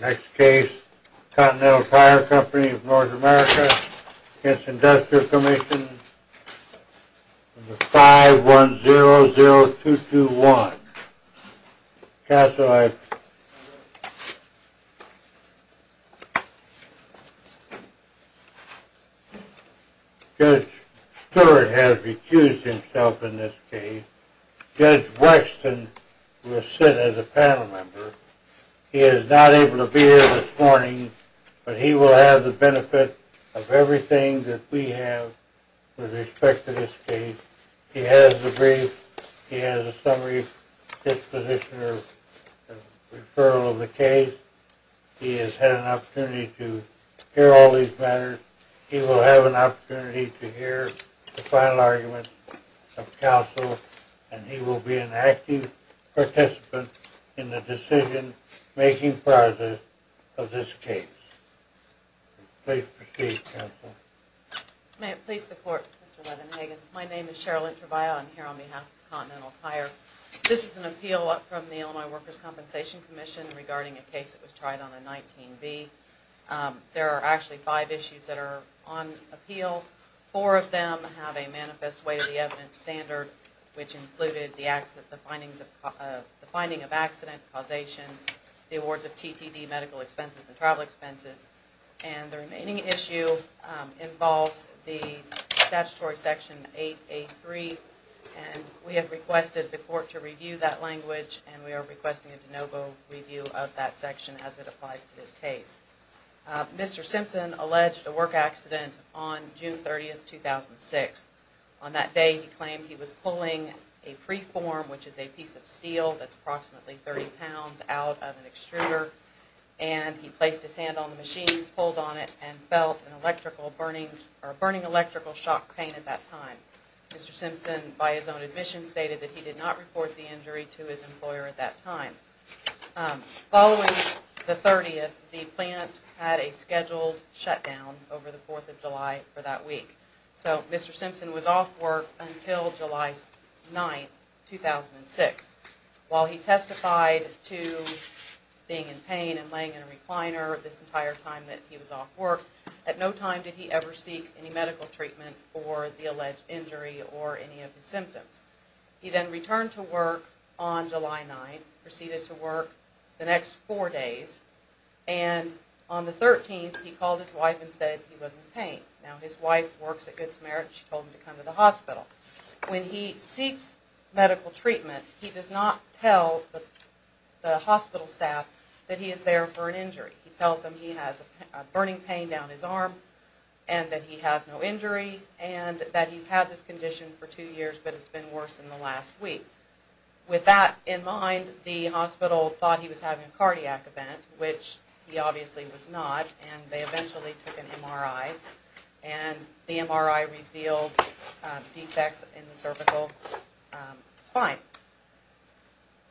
Next case, Continental Tire Company of North America v. Industrial Commission, 5100221, Casselipe. Judge Stewart has recused himself in this case. Judge Wexton will sit as a panel member. He is not able to be here this morning, but he will have the benefit of everything that we have with respect to this case. He has the brief. He has a summary disposition of the referral of the case. He has had an opportunity to hear all these matters. He will have an opportunity to hear the final arguments of counsel, and he will be an active participant in the decision-making process of this case. Please proceed, counsel. May it please the Court, Mr. Levenhagen. My name is Cheryl Introvaya. I'm here on behalf of Continental Tire. This is an appeal from the Illinois Workers' Compensation Commission regarding a case that was tried on a 19B. There are actually five issues that are on appeal. Four of them have a manifest way to the evidence standard, which included the finding of accident causation, the awards of TTD medical expenses and travel expenses, and the remaining issue involves the statutory section 8A3. We have requested the Court to review that language, and we are requesting a de novo review of that section as it applies to this case. Mr. Simpson alleged a work accident on June 30, 2006. On that day, he claimed he was pulling a preform, which is a piece of steel that's approximately 30 pounds, out of an extruder, and he placed his hand on the machine, pulled on it, and felt a burning electrical shock pain at that time. Mr. Simpson, by his own admission, stated that he did not report the injury to his employer at that time. Following the 30th, the plant had a scheduled shutdown over the 4th of July for that week. So, Mr. Simpson was off work until July 9, 2006. While he testified to being in pain and laying in a recliner this entire time that he was off work, at no time did he ever seek any medical treatment for the alleged injury or any of his symptoms. He then returned to work on July 9th, proceeded to work the next four days, and on the 13th, he called his wife and said he was in pain. Now, his wife works at Good Samaritan. She told him to come to the hospital. When he seeks medical treatment, he does not tell the hospital staff that he is there for an injury. He tells them he has a burning pain down his arm and that he has no injury and that he's had this condition for two years, but it's been worse in the last week. With that in mind, the hospital thought he was having a cardiac event, which he obviously was not, and they eventually took an MRI, and the MRI revealed defects in the cervical spine.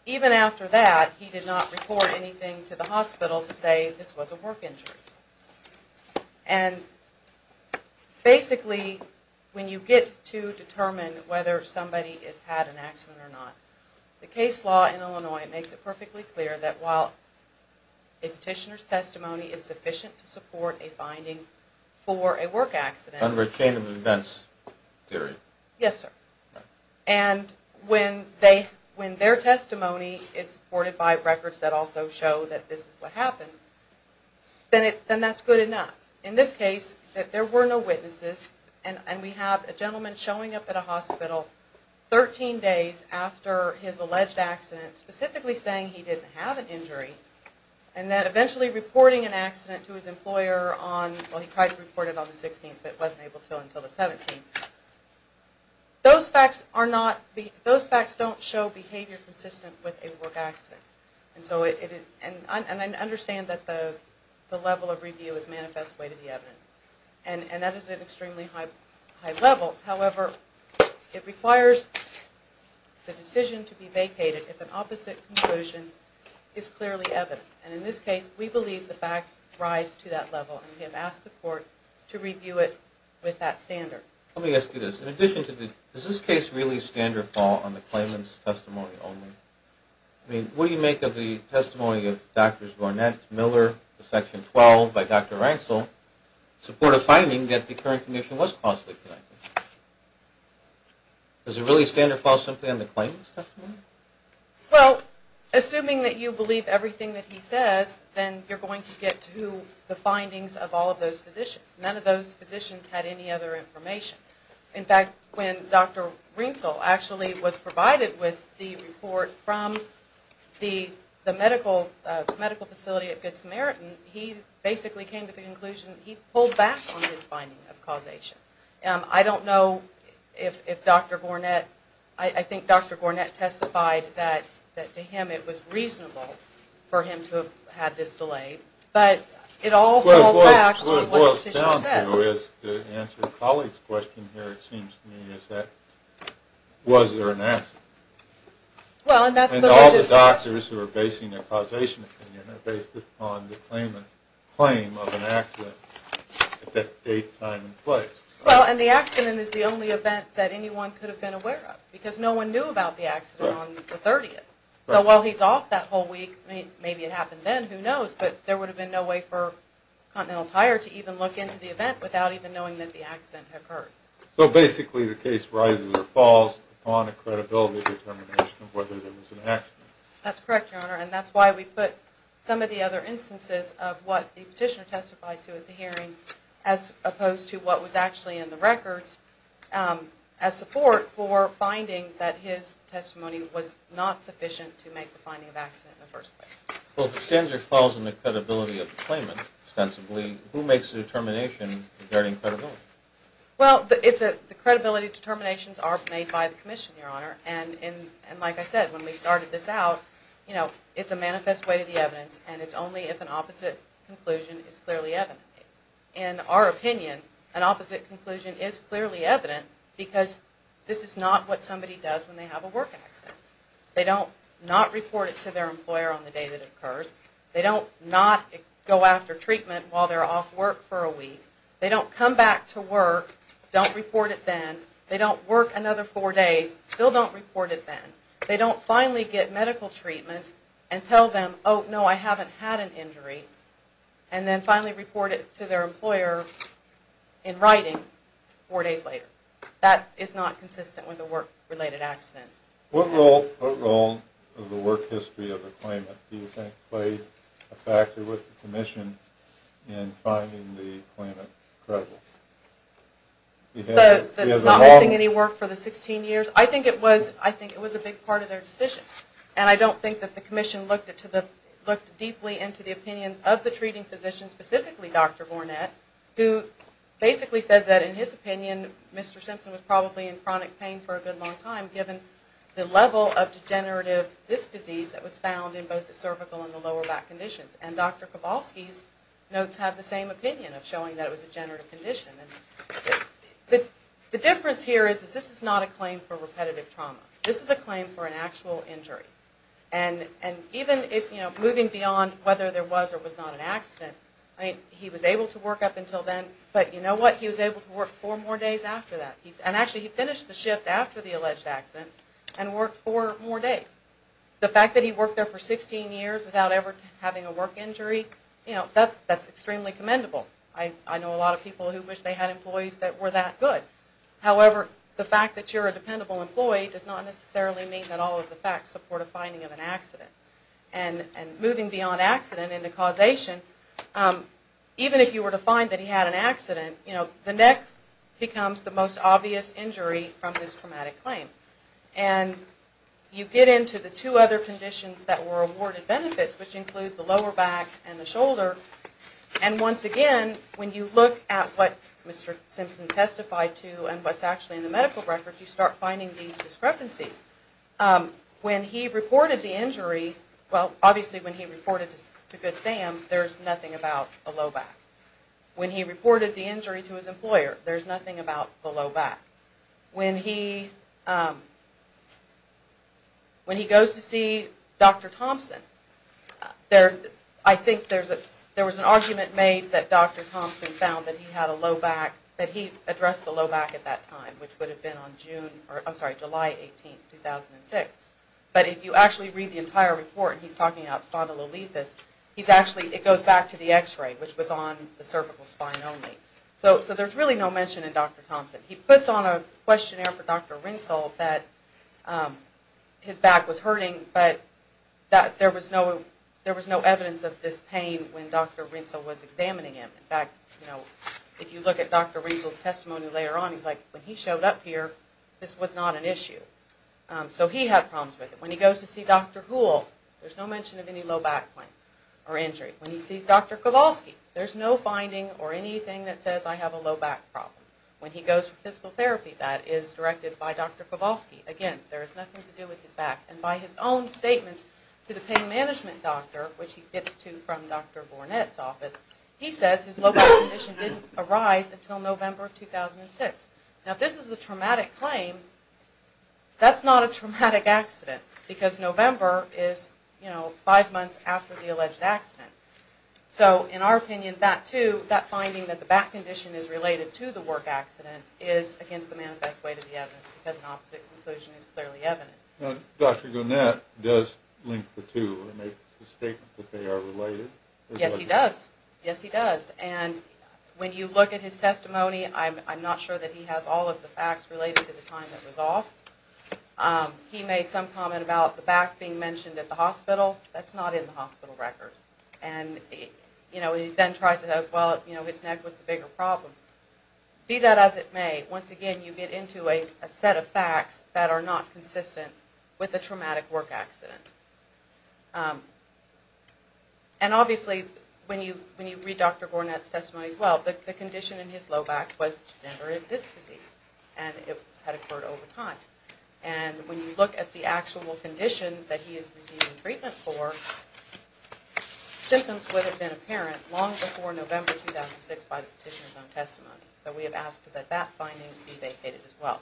Even after that, he did not report anything to the hospital to say this was a work injury. And basically, when you get to determine whether somebody has had an accident or not, the case law in Illinois makes it perfectly clear that while a petitioner's testimony is sufficient to support a finding for a work accident... Under a chain of events theory. Yes, sir. And when their testimony is supported by records that also show that this is what happened, then that's good enough. In this case, there were no witnesses, and we have a gentleman showing up at a hospital 13 days after his alleged accident, specifically saying he didn't have an injury, and then eventually reporting an accident to his employer on... Those facts don't show behavior consistent with a work accident. And I understand that the level of review is manifest way to the evidence, and that is at an extremely high level. However, it requires the decision to be vacated if an opposite conclusion is clearly evident. And in this case, we believe the facts rise to that level, and we have asked the court to review it with that standard. Let me ask you this. In addition to the... Does this case really stand or fall on the claimant's testimony only? I mean, what do you make of the testimony of Drs. Barnett, Miller, and Section 12 by Dr. Ransel in support of finding that the current condition was causally connected? Does it really stand or fall simply on the claimant's testimony? Well, assuming that you believe everything that he says, then you're going to get to the findings of all of those physicians. None of those physicians had any other information. In fact, when Dr. Ransel actually was provided with the report from the medical facility at Good Samaritan, he basically came to the conclusion he pulled back on his finding of causation. I don't know if Dr. Gornett... I think Dr. Gornett testified that to him it was reasonable for him to have had this delay, but it all falls back on what the physician said. What it boils down to is, to answer a colleague's question here, it seems to me, is that was there an accident? And all the doctors who are basing their causation opinion are based upon the claimant's claim of an accident at that date, time, and place. Well, and the accident is the only event that anyone could have been aware of, because no one knew about the accident on the 30th. So while he's off that whole week, maybe it happened then, who knows, but there would have been no way for Continental Tire to even look into the event without even knowing that the accident had occurred. So basically the case rises or falls upon a credibility determination of whether there was an accident. That's correct, Your Honor, and that's why we put some of the other instances of what the petitioner testified to at the hearing as opposed to what was actually in the records as support for finding that his testimony was not sufficient to make the finding of accident in the first place. Well, if the standard falls on the credibility of the claimant, ostensibly, who makes the determination regarding credibility? Well, the credibility determinations are made by the Commission, Your Honor, and like I said, when we started this out, it's a manifest way to the evidence, and it's only if an opposite conclusion is clearly evident. In our opinion, an opposite conclusion is clearly evident, because this is not what somebody does when they have a work accident. They don't not report it to their employer on the day that it occurs. They don't not go after treatment while they're off work for a week. They don't come back to work, don't report it then. They don't work another four days, still don't report it then. They don't finally get medical treatment and tell them, oh, no, I haven't had an injury, and then finally report it to their employer in writing four days later. That is not consistent with a work-related accident. What role of the work history of the claimant do you think played a factor with the Commission in finding the claimant credible? Not missing any work for the 16 years? I think it was a big part of their decision, and I don't think that the Commission looked deeply into the opinions of the treating physician, specifically Dr. Gornett, who basically said that, in his opinion, Mr. Simpson was probably in chronic pain for a good long time, given the level of degenerative disc disease that was found in both the cervical and the lower back conditions. And Dr. Kowalski's notes have the same opinion of showing that it was a degenerative condition. The difference here is that this is not a claim for repetitive trauma. This is a claim for an actual injury. And even if, you know, moving beyond whether there was or was not an accident, I mean, he was able to work up until then, but you know what? He was able to work four more days after that. And actually, he finished the shift after the alleged accident and worked four more days. The fact that he worked there for 16 years without ever having a work injury, you know, that's extremely commendable. I know a lot of people who wish they had employees that were that good. However, the fact that you're a dependable employee does not necessarily mean that all of the facts support a finding of an accident. And moving beyond accident into causation, even if you were to find that he had an accident, you know, the neck becomes the most obvious injury from this traumatic claim. And you get into the two other conditions that were awarded benefits, which include the lower back and the shoulder. And once again, when you look at what Mr. Simpson testified to and what's actually in the medical records, you start finding these discrepancies. When he reported the injury, well, obviously when he reported to Good Sam, there's nothing about a low back. When he reported the injury to his employer, there's nothing about the low back. When he goes to see Dr. Thompson, I think there was an argument made that Dr. Thompson found that he had a low back, that he addressed the low back at that time, which would have been on July 18, 2006. But if you actually read the entire report, and he's talking about spondylolethis, it goes back to the x-ray, which was on the cervical spine only. So there's really no mention in Dr. Thompson. He puts on a questionnaire for Dr. Rintzel that his back was hurting, but there was no evidence of this pain when Dr. Rintzel was examining him. In fact, if you look at Dr. Rintzel's testimony later on, he's like, when he showed up here, this was not an issue. So he had problems with it. When he goes to see Dr. Houle, there's no mention of any low back pain or injury. When he sees Dr. Kowalski, there's no finding or anything that says, I have a low back problem. When he goes for physical therapy, that is directed by Dr. Kowalski. Again, there is nothing to do with his back. And by his own statements to the pain management doctor, which he gets to from Dr. Bournette's office, he says his low back condition didn't arise until November 2006. Now if this is a traumatic claim, that's not a traumatic accident, because November is, you know, five months after the alleged accident. So in our opinion, that too, that finding that the back condition is related to the work accident, is against the manifest way to the evidence, because an opposite conclusion is clearly evident. Now, Dr. Garnett does link the two and make the statement that they are related? Yes, he does. Yes, he does. And when you look at his testimony, I'm not sure that he has all of the facts related to the time that was off. He made some comment about the back being mentioned at the hospital. That's not in the hospital record. And, you know, he then tries to, well, you know, his neck was the bigger problem. Be that as it may, once again you get into a set of facts that are not consistent with a traumatic work accident. And obviously, when you read Dr. Garnett's testimony as well, the condition in his low back was to never have this disease. And it had occurred over time. And when you look at the actual condition that he is receiving treatment for, symptoms would have been apparent long before November 2006 by the petitioner's own testimony. So we have asked that that finding be vacated as well.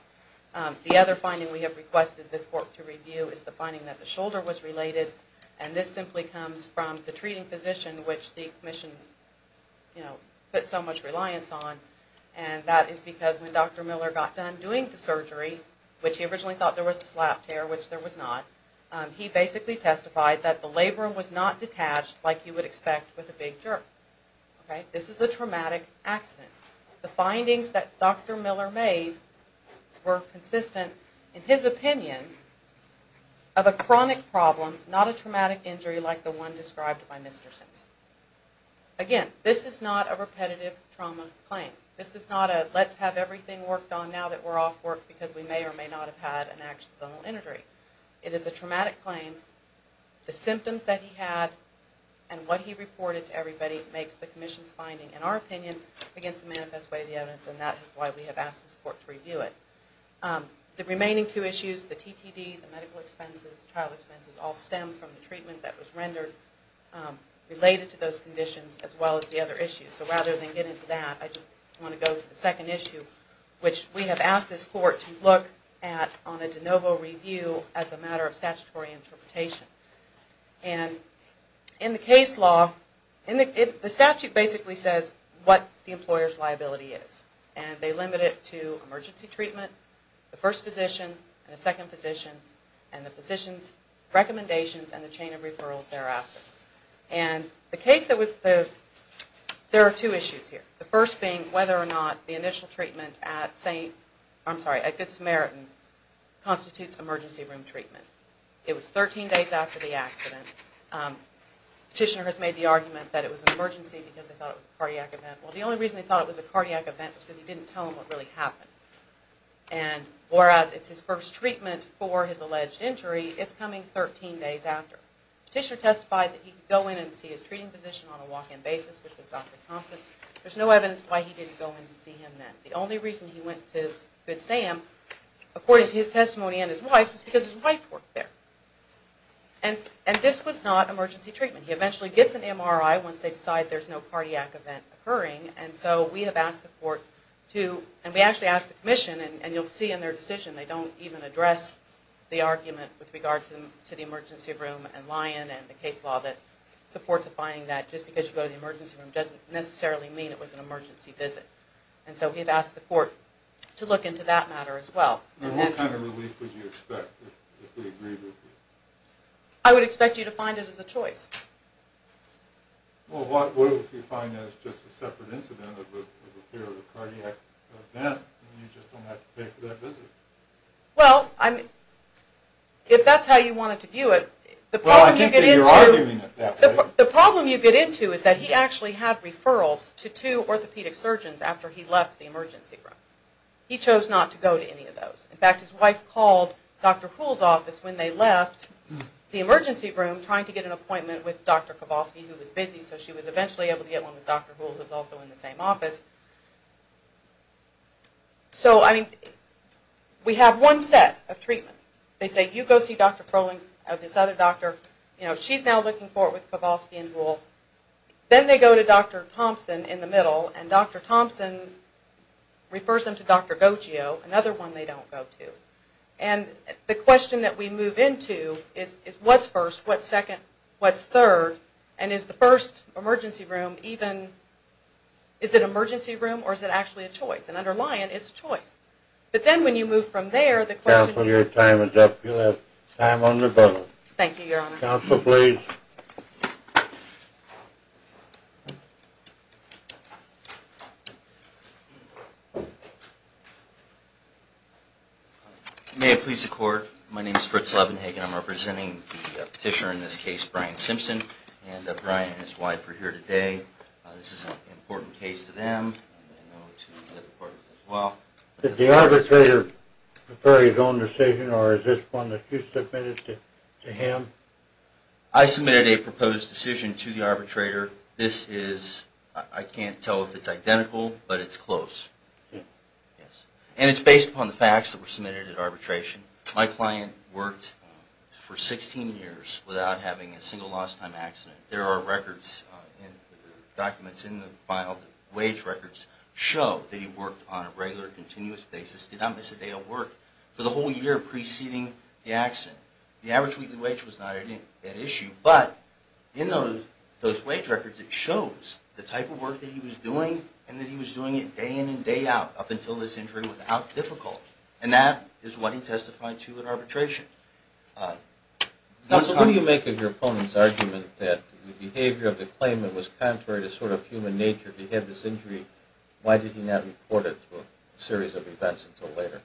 The other finding we have requested the court to review is the finding that the shoulder was related. And this simply comes from the treating physician, which the commission, you know, put so much reliance on. And that is because when Dr. Miller got done doing the surgery, which he originally thought there was a slap tear, which there was not, he basically testified that the labrum was not detached like you would expect with a big jerk. This is a traumatic accident. The findings that Dr. Miller made were consistent, in his opinion, of a chronic problem, not a traumatic injury like the one described by Mr. Simpson. Again, this is not a repetitive trauma claim. This is not a let's have everything worked on now that we're off work because we may or may not have had an accidental injury. It is a traumatic claim. The symptoms that he had and what he reported to everybody makes the commission's finding, in our opinion, against the manifest way of the evidence. And that is why we have asked this court to review it. The remaining two issues, the TTD, the medical expenses, the trial expenses, all stem from the treatment that was rendered related to those conditions as well as the other issues. So rather than get into that, I just want to go to the second issue, which we have asked this court to look at on a de novo review as a matter of statutory interpretation. And in the case law, the statute basically says what the employer's liability is. And they limit it to emergency treatment, the first physician, and the second physician, and the physician's recommendations and the chain of referrals thereafter. And the case that was... there are two issues here. The first being whether or not the initial treatment at St... I'm sorry, at Good Samaritan constitutes emergency room treatment. It was 13 days after the accident. Petitioner has made the argument that it was an emergency because they thought it was a cardiac event. Well, the only reason they thought it was a cardiac event was because he didn't tell them what really happened. And whereas it's his first treatment for his alleged injury, it's coming 13 days after. Petitioner testified that he could go in and see his treating physician on a walk-in basis, which was Dr. Thompson. There's no evidence why he didn't go in to see him then. The only reason he went to Good Sam, according to his testimony and his wife's, was because his wife worked there. And this was not emergency treatment. He eventually gets an MRI once they decide there's no cardiac event occurring. And so we have asked the court to... and we actually asked the commission, and you'll see in their decision they don't even address the argument with regard to the emergency room and Lyon and the case law that supports the finding that just because you go to the emergency room doesn't necessarily mean it was an emergency visit. And so we've asked the court to look into that matter as well. And what kind of relief would you expect if they agreed with you? I would expect you to find it as a choice. Well, what if you find that it's just a separate incident of the fear of a cardiac event and you just don't have to pay for that visit? Well, if that's how you wanted to view it... Well, I think that you're arguing it that way. The problem you get into is that he actually had referrals to two orthopedic surgeons after he left the emergency room. He chose not to go to any of those. In fact, his wife called Dr. Houle's office when they left the emergency room trying to get an appointment with Dr. Kowalski, who was busy, so she was eventually able to get one with Dr. Houle, who was also in the same office. So, I mean, we have one set of treatment. They say, you go see Dr. Froehling or this other doctor. You know, she's now looking for it with Kowalski and Houle. Then they go to Dr. Thompson in the middle, and Dr. Thompson refers them to Dr. Goccio, another one they don't go to. And the question that we move into is what's first, what's second, what's third, and is the first emergency room even... Is it an emergency room or is it actually a choice? And under Lyon, it's a choice. But then when you move from there, the question... Counsel, your time is up. You'll have time on rebuttal. Thank you, Your Honor. Counsel, please. Thank you. May it please the Court, my name is Fritz Levenhagen. I'm representing the petitioner in this case, Brian Simpson, and Brian and his wife are here today. This is an important case to them and I know to the court as well. Did the arbitrator prefer his own decision or is this one that you submitted to him? I submitted a proposed decision to the arbitrator. This is... I can't tell if it's identical, but it's close. And it's based upon the facts that were submitted at arbitration. My client worked for 16 years without having a single lost time accident. There are records, documents in the file, wage records, show that he worked on a regular, continuous basis, did not miss a day of work, for the whole year preceding the accident. The average weekly wage was not at issue, but in those wage records it shows the type of work that he was doing and that he was doing it day in and day out, up until this injury was out difficult. And that is what he testified to at arbitration. Counsel, what do you make of your opponent's argument that the behavior of the claimant was contrary to sort of human nature? If he had this injury, why did he not report it to a series of events until later?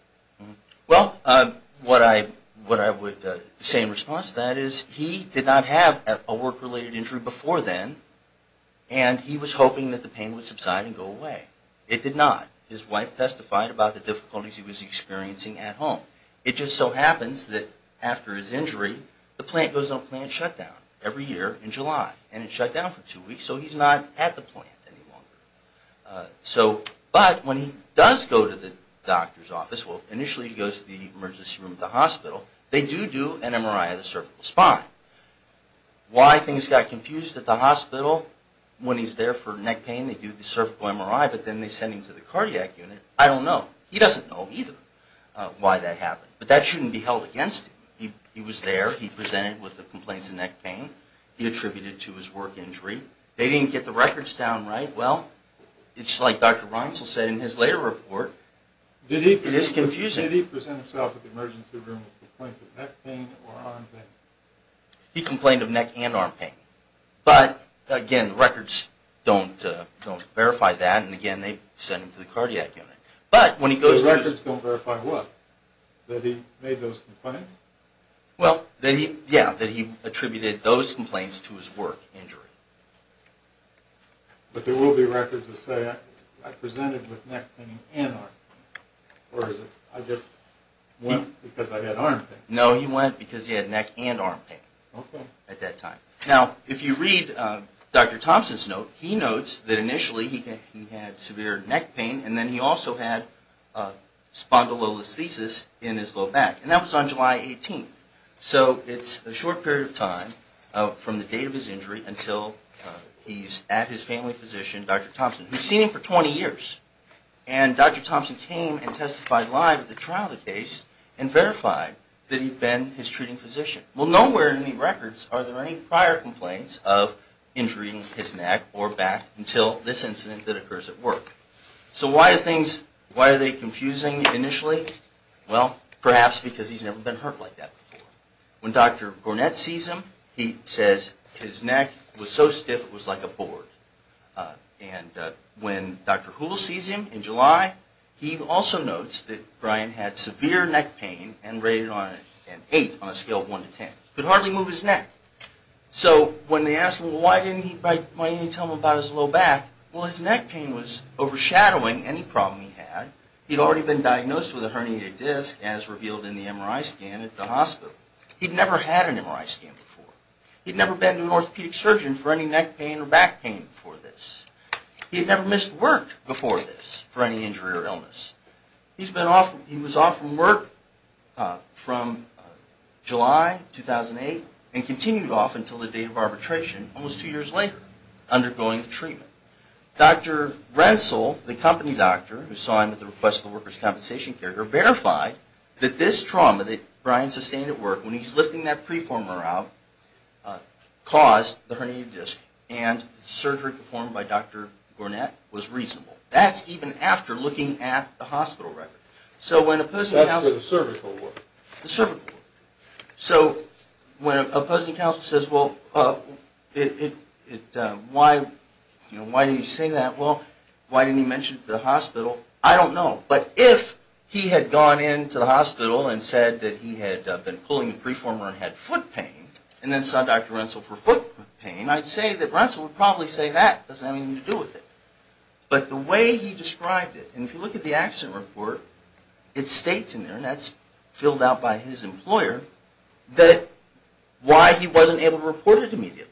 Well, what I would say in response to that is he did not have a work-related injury before then, and he was hoping that the pain would subside and go away. It did not. His wife testified about the difficulties he was experiencing at home. It just so happens that after his injury, the plant goes on plant shutdown every year in July. And it's shut down for two weeks, so he's not at the plant any longer. But when he does go to the doctor's office, well, initially he goes to the emergency room at the hospital, they do do an MRI of the cervical spine. Why things got confused at the hospital, when he's there for neck pain they do the cervical MRI, but then they send him to the cardiac unit, I don't know. He doesn't know either why that happened. But that shouldn't be held against him. He was there, he presented with the complaints of neck pain, he attributed it to his work injury. They didn't get the records down right. Well, it's like Dr. Reinsel said in his later report, it is confusing. Did he present himself at the emergency room with complaints of neck pain or arm pain? He complained of neck and arm pain. But, again, the records don't verify that, and again, they send him to the cardiac unit. But when he goes to the... The records don't verify what? That he made those complaints? Well, yeah, that he attributed those complaints to his work injury. But there will be records that say I presented with neck pain and arm pain, or is it I just went because I had arm pain? No, he went because he had neck and arm pain at that time. Now, if you read Dr. Thompson's note, he notes that initially he had severe neck pain, and then he also had spondylolisthesis in his low back. And that was on July 18th. So it's a short period of time from the date of his injury until he's at his family physician, Dr. Thompson, who's seen him for 20 years. And Dr. Thompson came and testified live at the trial of the case and verified that he'd been his treating physician. Well, nowhere in the records are there any prior complaints of injuring his neck or back until this incident that occurs at work. So why are things... Why are they confusing initially? Well, perhaps because he's never been hurt like that before. When Dr. Gornett sees him, he says his neck was so stiff it was like a board. And when Dr. Houle sees him in July, he also notes that Brian had severe neck pain and rated an 8 on a scale of 1 to 10. He could hardly move his neck. So when they asked him why didn't he tell them about his low back, well, his neck pain was overshadowing any problem he had. He'd already been diagnosed with a herniated disc, as revealed in the MRI scan at the hospital. He'd never had an MRI scan before. He'd never been to an orthopedic surgeon for any neck pain or back pain before this. He had never missed work before this for any injury or illness. He was off from work from July 2008 and continued off until the date of arbitration almost two years later, undergoing the treatment. Dr. Renssel, the company doctor, who saw him at the request of the workers' compensation carrier, verified that this trauma that Brian sustained at work when he was lifting that preformer out caused the herniated disc and the surgery performed by Dr. Gornett was reasonable. That's even after looking at the hospital record. So when opposing counsel... That's for the cervical work. The cervical work. So when opposing counsel says, well, why did he say that? Well, why didn't he mention it to the hospital? I don't know, but if he had gone into the hospital and said that he had been pulling the preformer and had foot pain and then saw Dr. Renssel for foot pain, I'd say that Renssel would probably say that. It doesn't have anything to do with it. But the way he described it, and if you look at the accident report, it states in there, and that's filled out by his employer, that why he wasn't able to report it immediately.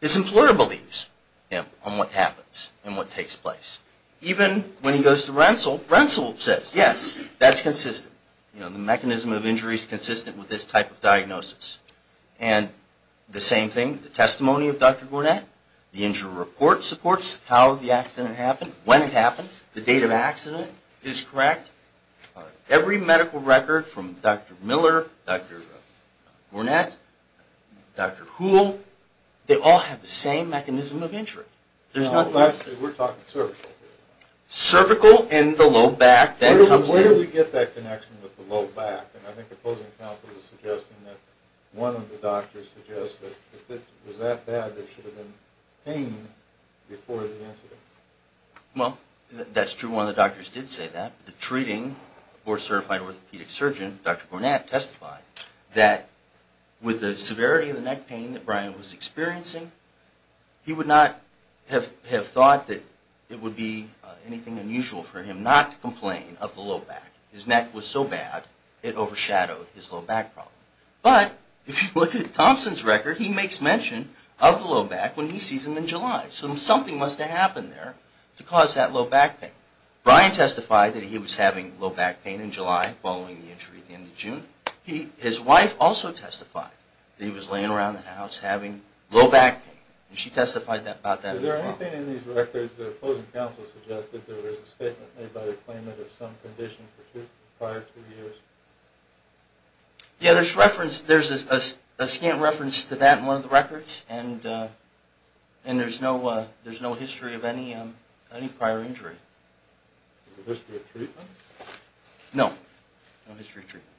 His employer believes him on what happens and what takes place. Even when he goes to Renssel, Renssel says, yes, that's consistent. The mechanism of injury is consistent with this type of diagnosis. And the same thing, the testimony of Dr. Gornett, the injury report supports how the accident happened, when it happened, the date of accident is correct. Every medical record from Dr. Miller, Dr. Gornett, Dr. Houle, they all have the same mechanism of injury. We're talking cervical here. Cervical and the low back. Where do we get that connection with the low back? I think the opposing counsel was suggesting that one of the doctors suggested that it was that bad that should have been pain before the incident. Well, that's true. One of the doctors did say that. The treating board certified orthopedic surgeon, Dr. Gornett, testified that with the severity of the neck pain that Brian was experiencing, he would not have thought that it would be anything unusual for him not to complain of the low back. His neck was so bad, it overshadowed his low back problem. But if you look at Thompson's record, he makes mention of the low back when he sees him in July. So something must have happened there to cause that low back pain. Brian testified that he was having low back pain in July following the injury at the end of June. His wife also testified that he was laying around the house having low back pain. She testified about that as well. Is there anything in these records that the opposing counsel suggested that there was a statement made by the claimant of some condition for two prior years? Yeah, there's a scant reference to that in one of the records, and there's no history of any prior injury. No history of treatment? No, no history of treatment.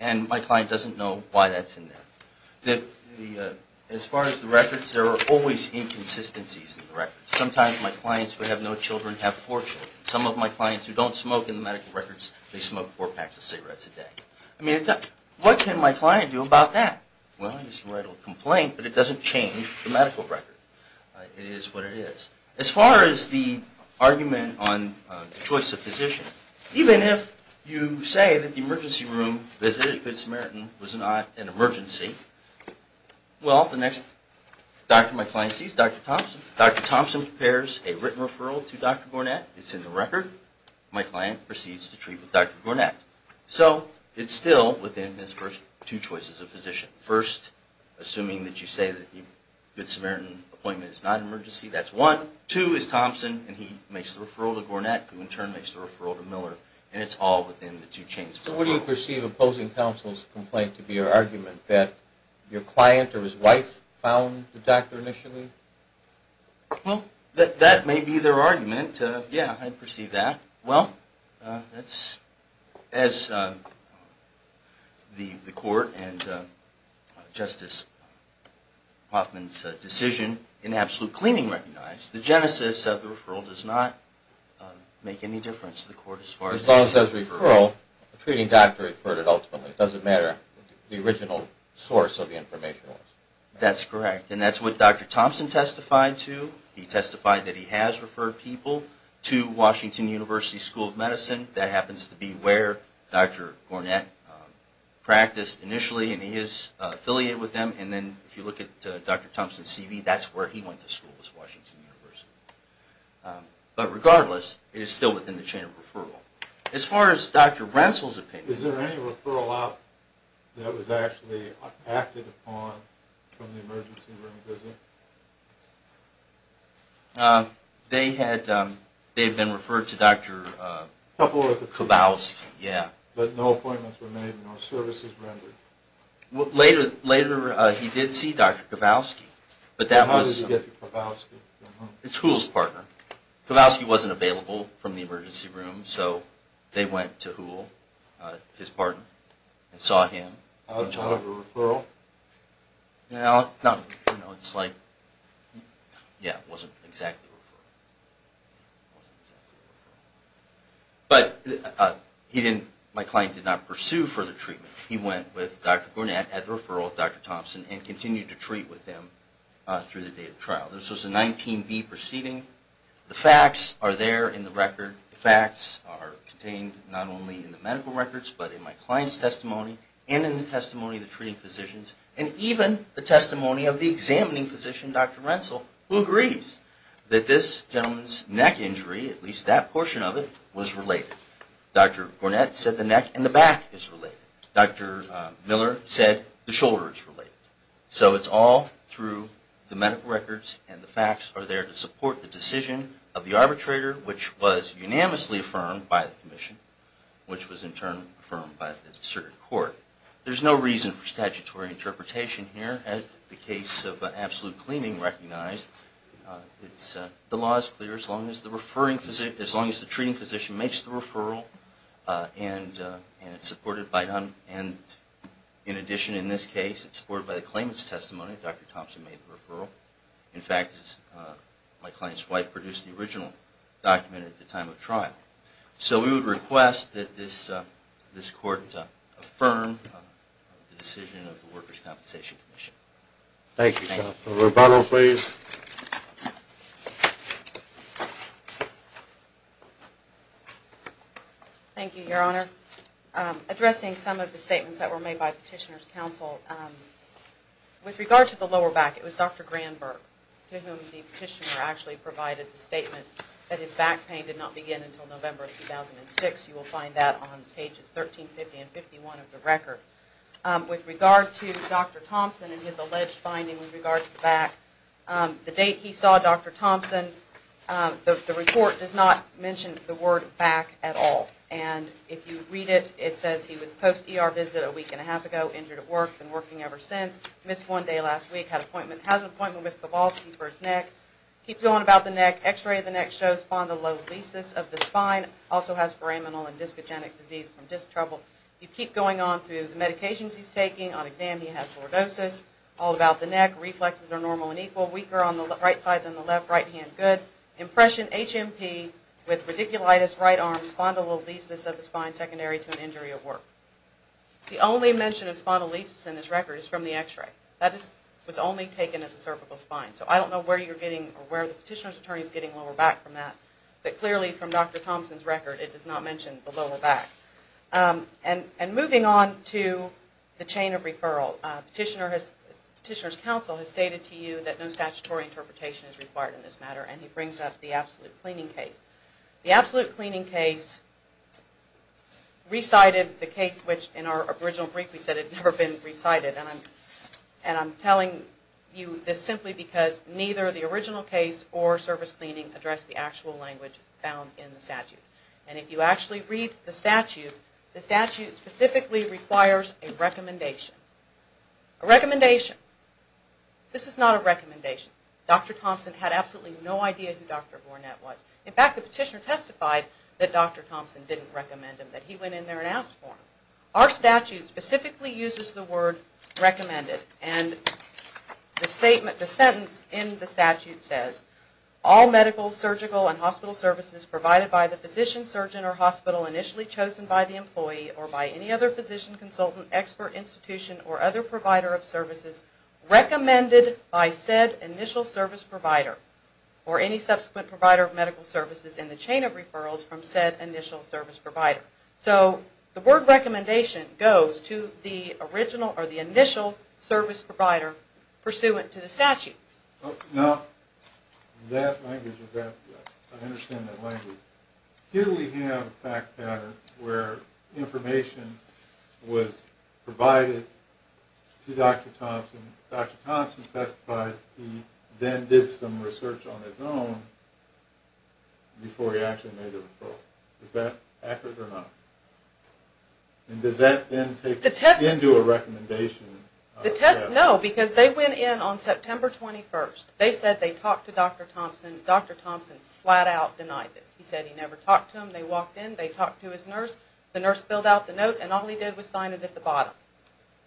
And my client doesn't know why that's in there. As far as the records, there are always inconsistencies in the records. Sometimes my clients who have no children have four children. Some of my clients who don't smoke in the medical records, they smoke four packs of cigarettes a day. I mean, what can my client do about that? Well, he can write a complaint, but it doesn't change the medical record. It is what it is. As far as the argument on the choice of physician, even if you say that the emergency room visit at Good Samaritan was not an emergency, well, the next doctor my client sees, Dr. Thompson, Dr. Thompson prepares a written referral to Dr. Gornett. It's in the record. My client proceeds to treat with Dr. Gornett. So it's still within his first two choices of physician. First, assuming that you say that the Good Samaritan appointment is not an emergency, that's one. Two is Thompson, and he makes the referral to Gornett, who in turn makes the referral to Miller, and it's all within the two chains of referral. So what do you perceive opposing counsel's complaint to be your argument, that your client or his wife found the doctor initially? Well, that may be their argument. Yeah, I'd perceive that. Well, that's as the court and Justice Hoffman's decision in absolute cleaning recognized, the genesis of the referral does not make any difference to the court. As long as there's a referral, the treating doctor referred it ultimately. It doesn't matter what the original source of the information was. That's correct, and that's what Dr. Thompson testified to. He testified that he has referred people to Washington University School of Medicine. That happens to be where Dr. Gornett practiced initially, and he is affiliated with them. And then if you look at Dr. Thompson's CV, that's where he went to school, was Washington University. But regardless, it is still within the chain of referral. As far as Dr. Renssel's opinion. Is there any referral out that was actually acted upon from the emergency room visit? They had been referred to Dr. Kowalski. But no appointments were made, no services rendered. Later, he did see Dr. Kowalski. How did he get to Kowalski? It's Houle's partner. Kowalski wasn't available from the emergency room, so they went to Houle, his partner, and saw him. Was that a referral? No, it wasn't exactly a referral. But my client did not pursue further treatment. He went with Dr. Gornett at the referral with Dr. Thompson and continued to treat with him through the day of trial. This was a 19B proceeding. The facts are there in the record. The facts are contained not only in the medical records, but in my client's testimony and in the testimony of the treating physicians and even the testimony of the examining physician, Dr. Renssel, who agrees that this gentleman's neck injury, at least that portion of it, was related. Dr. Gornett said the neck and the back is related. Dr. Miller said the shoulder is related. So it's all through the medical records, and the facts are there to support the decision of the arbitrator, which was unanimously affirmed by the commission, which was in turn affirmed by the district court. There's no reason for statutory interpretation here. As the case of absolute cleaning recognized, In addition, in this case, it's supported by the claimant's testimony. Dr. Thompson made the referral. In fact, my client's wife produced the original document at the time of trial. So we would request that this court affirm the decision of the Workers' Compensation Commission. A rebuttal, please. Thank you, Your Honor. Addressing some of the statements that were made by Petitioner's Counsel, with regard to the lower back, it was Dr. Granberg to whom the petitioner actually provided the statement that his back pain did not begin until November 2006. You will find that on pages 1350 and 1351 of the record. With regard to Dr. Thompson and his alleged finding with regard to the back, the date he saw Dr. Thompson, the report does not mention the word back at all. And if you read it, it says he was post-ER visit a week and a half ago, injured at work, been working ever since. Missed one day last week, had an appointment with Kowalski for his neck. Keeps going about the neck. X-ray of the neck shows spondylolisis of the spine. Also has foramenal and discogenic disease from disc trouble. You keep going on through the medications he's taking. On exam, he had scoliosis. All about the neck. Reflexes are normal and equal. Weaker on the right side than the left. Right hand good. Impression, HMP, with radiculitis, right arm, spondylolisis of the spine, secondary to an injury at work. The only mention of spondylolisis in this record is from the X-ray. That was only taken at the cervical spine. So I don't know where the petitioner's attorney is getting lower back from that. But clearly from Dr. Thompson's record, it does not mention the lower back. And moving on to the chain of referral. Petitioner's counsel has stated to you that no statutory interpretation is required in this matter. And he brings up the absolute cleaning case. The absolute cleaning case recited the case which in our original brief we said had never been recited. And I'm telling you this simply because addressed the actual language found in the statute. And if you actually read the statute, the statute specifically requires a recommendation. A recommendation. This is not a recommendation. Dr. Thompson had absolutely no idea who Dr. Vornette was. In fact, the petitioner testified that Dr. Thompson didn't recommend him. That he went in there and asked for him. Our statute specifically uses the word recommended. And the sentence in the statute says, All medical, surgical, and hospital services provided by the physician, surgeon, or hospital initially chosen by the employee or by any other physician, consultant, expert, institution, or other provider of services recommended by said initial service provider or any subsequent provider of medical services in the chain of referrals from said initial service provider. So the word recommendation goes to the initial service provider pursuant to the statute. Now, that language, I understand that language. Here we have a fact pattern where information was provided to Dr. Thompson. Dr. Thompson testified he then did some research on his own before he actually made the referral. Is that accurate or not? And does that then take into a recommendation? No, because they went in on September 21st. They said they talked to Dr. Thompson. Dr. Thompson flat out denied this. He said he never talked to him. They walked in. They talked to his nurse. The nurse filled out the note and all he did was sign it at the bottom.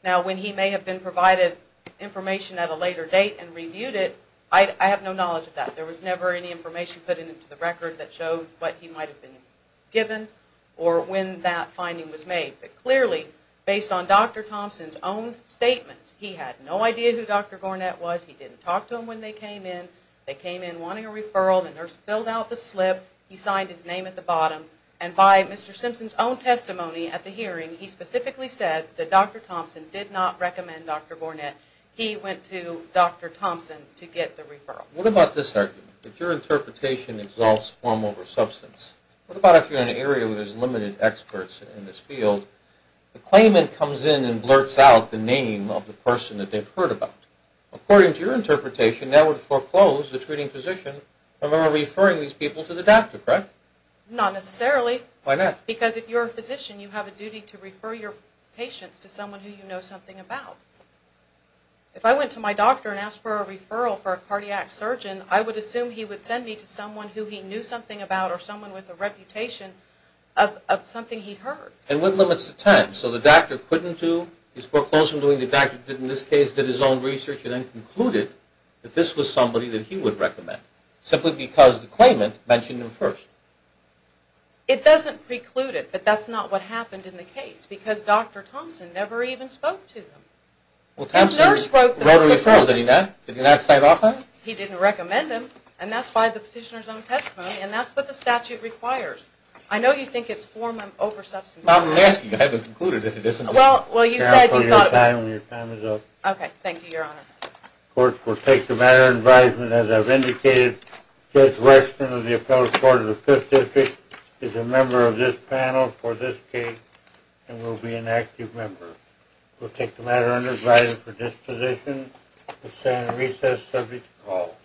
Now, when he may have been provided information at a later date and reviewed it, I have no knowledge of that. There was never any information put into the record that showed what he might have been given or when that finding was made. But clearly, based on Dr. Thompson's own statements, he had no idea who Dr. Gornett was. He didn't talk to him when they came in. They came in wanting a referral. The nurse filled out the slip. He signed his name at the bottom. And by Mr. Simpson's own testimony at the hearing, he specifically said that Dr. Thompson did not recommend Dr. Gornett. He went to Dr. Thompson to get the referral. What about this argument? That your interpretation exalts form over substance. What about if you're in an area where there's limited experts in this field? The claimant comes in and blurts out the name of the person that they've heard about. According to your interpretation, that would foreclose the treating physician from ever referring these people to the doctor, correct? Not necessarily. Why not? Because if you're a physician, you have a duty to refer your patients to someone who you know something about. If I went to my doctor and asked for a referral for a cardiac surgeon, I would assume he would send me to someone who he knew something about or someone with a reputation of something he'd heard. And what limits the time? So the doctor couldn't do his foreclosure doing the doctor did in this case, did his own research, and then concluded that this was somebody that he would recommend simply because the claimant mentioned him first. It doesn't preclude it, but that's not what happened in the case because Dr. Thompson never even spoke to him. Well, Thompson wrote a referral, did he not? Did he not sign off on it? He didn't recommend him, and that's by the petitioner's own testimony, and that's what the statute requires. I know you think it's form of oversubstantiation. Well, you said you thought about it. Your time is up. Okay, thank you, Your Honor. As I've indicated, Judge Wexton of the Appellate Court of the Fifth District is a member of this panel for this case and will be an active member. We'll take the matter under advisory for disposition. We'll stand in recess subject to call.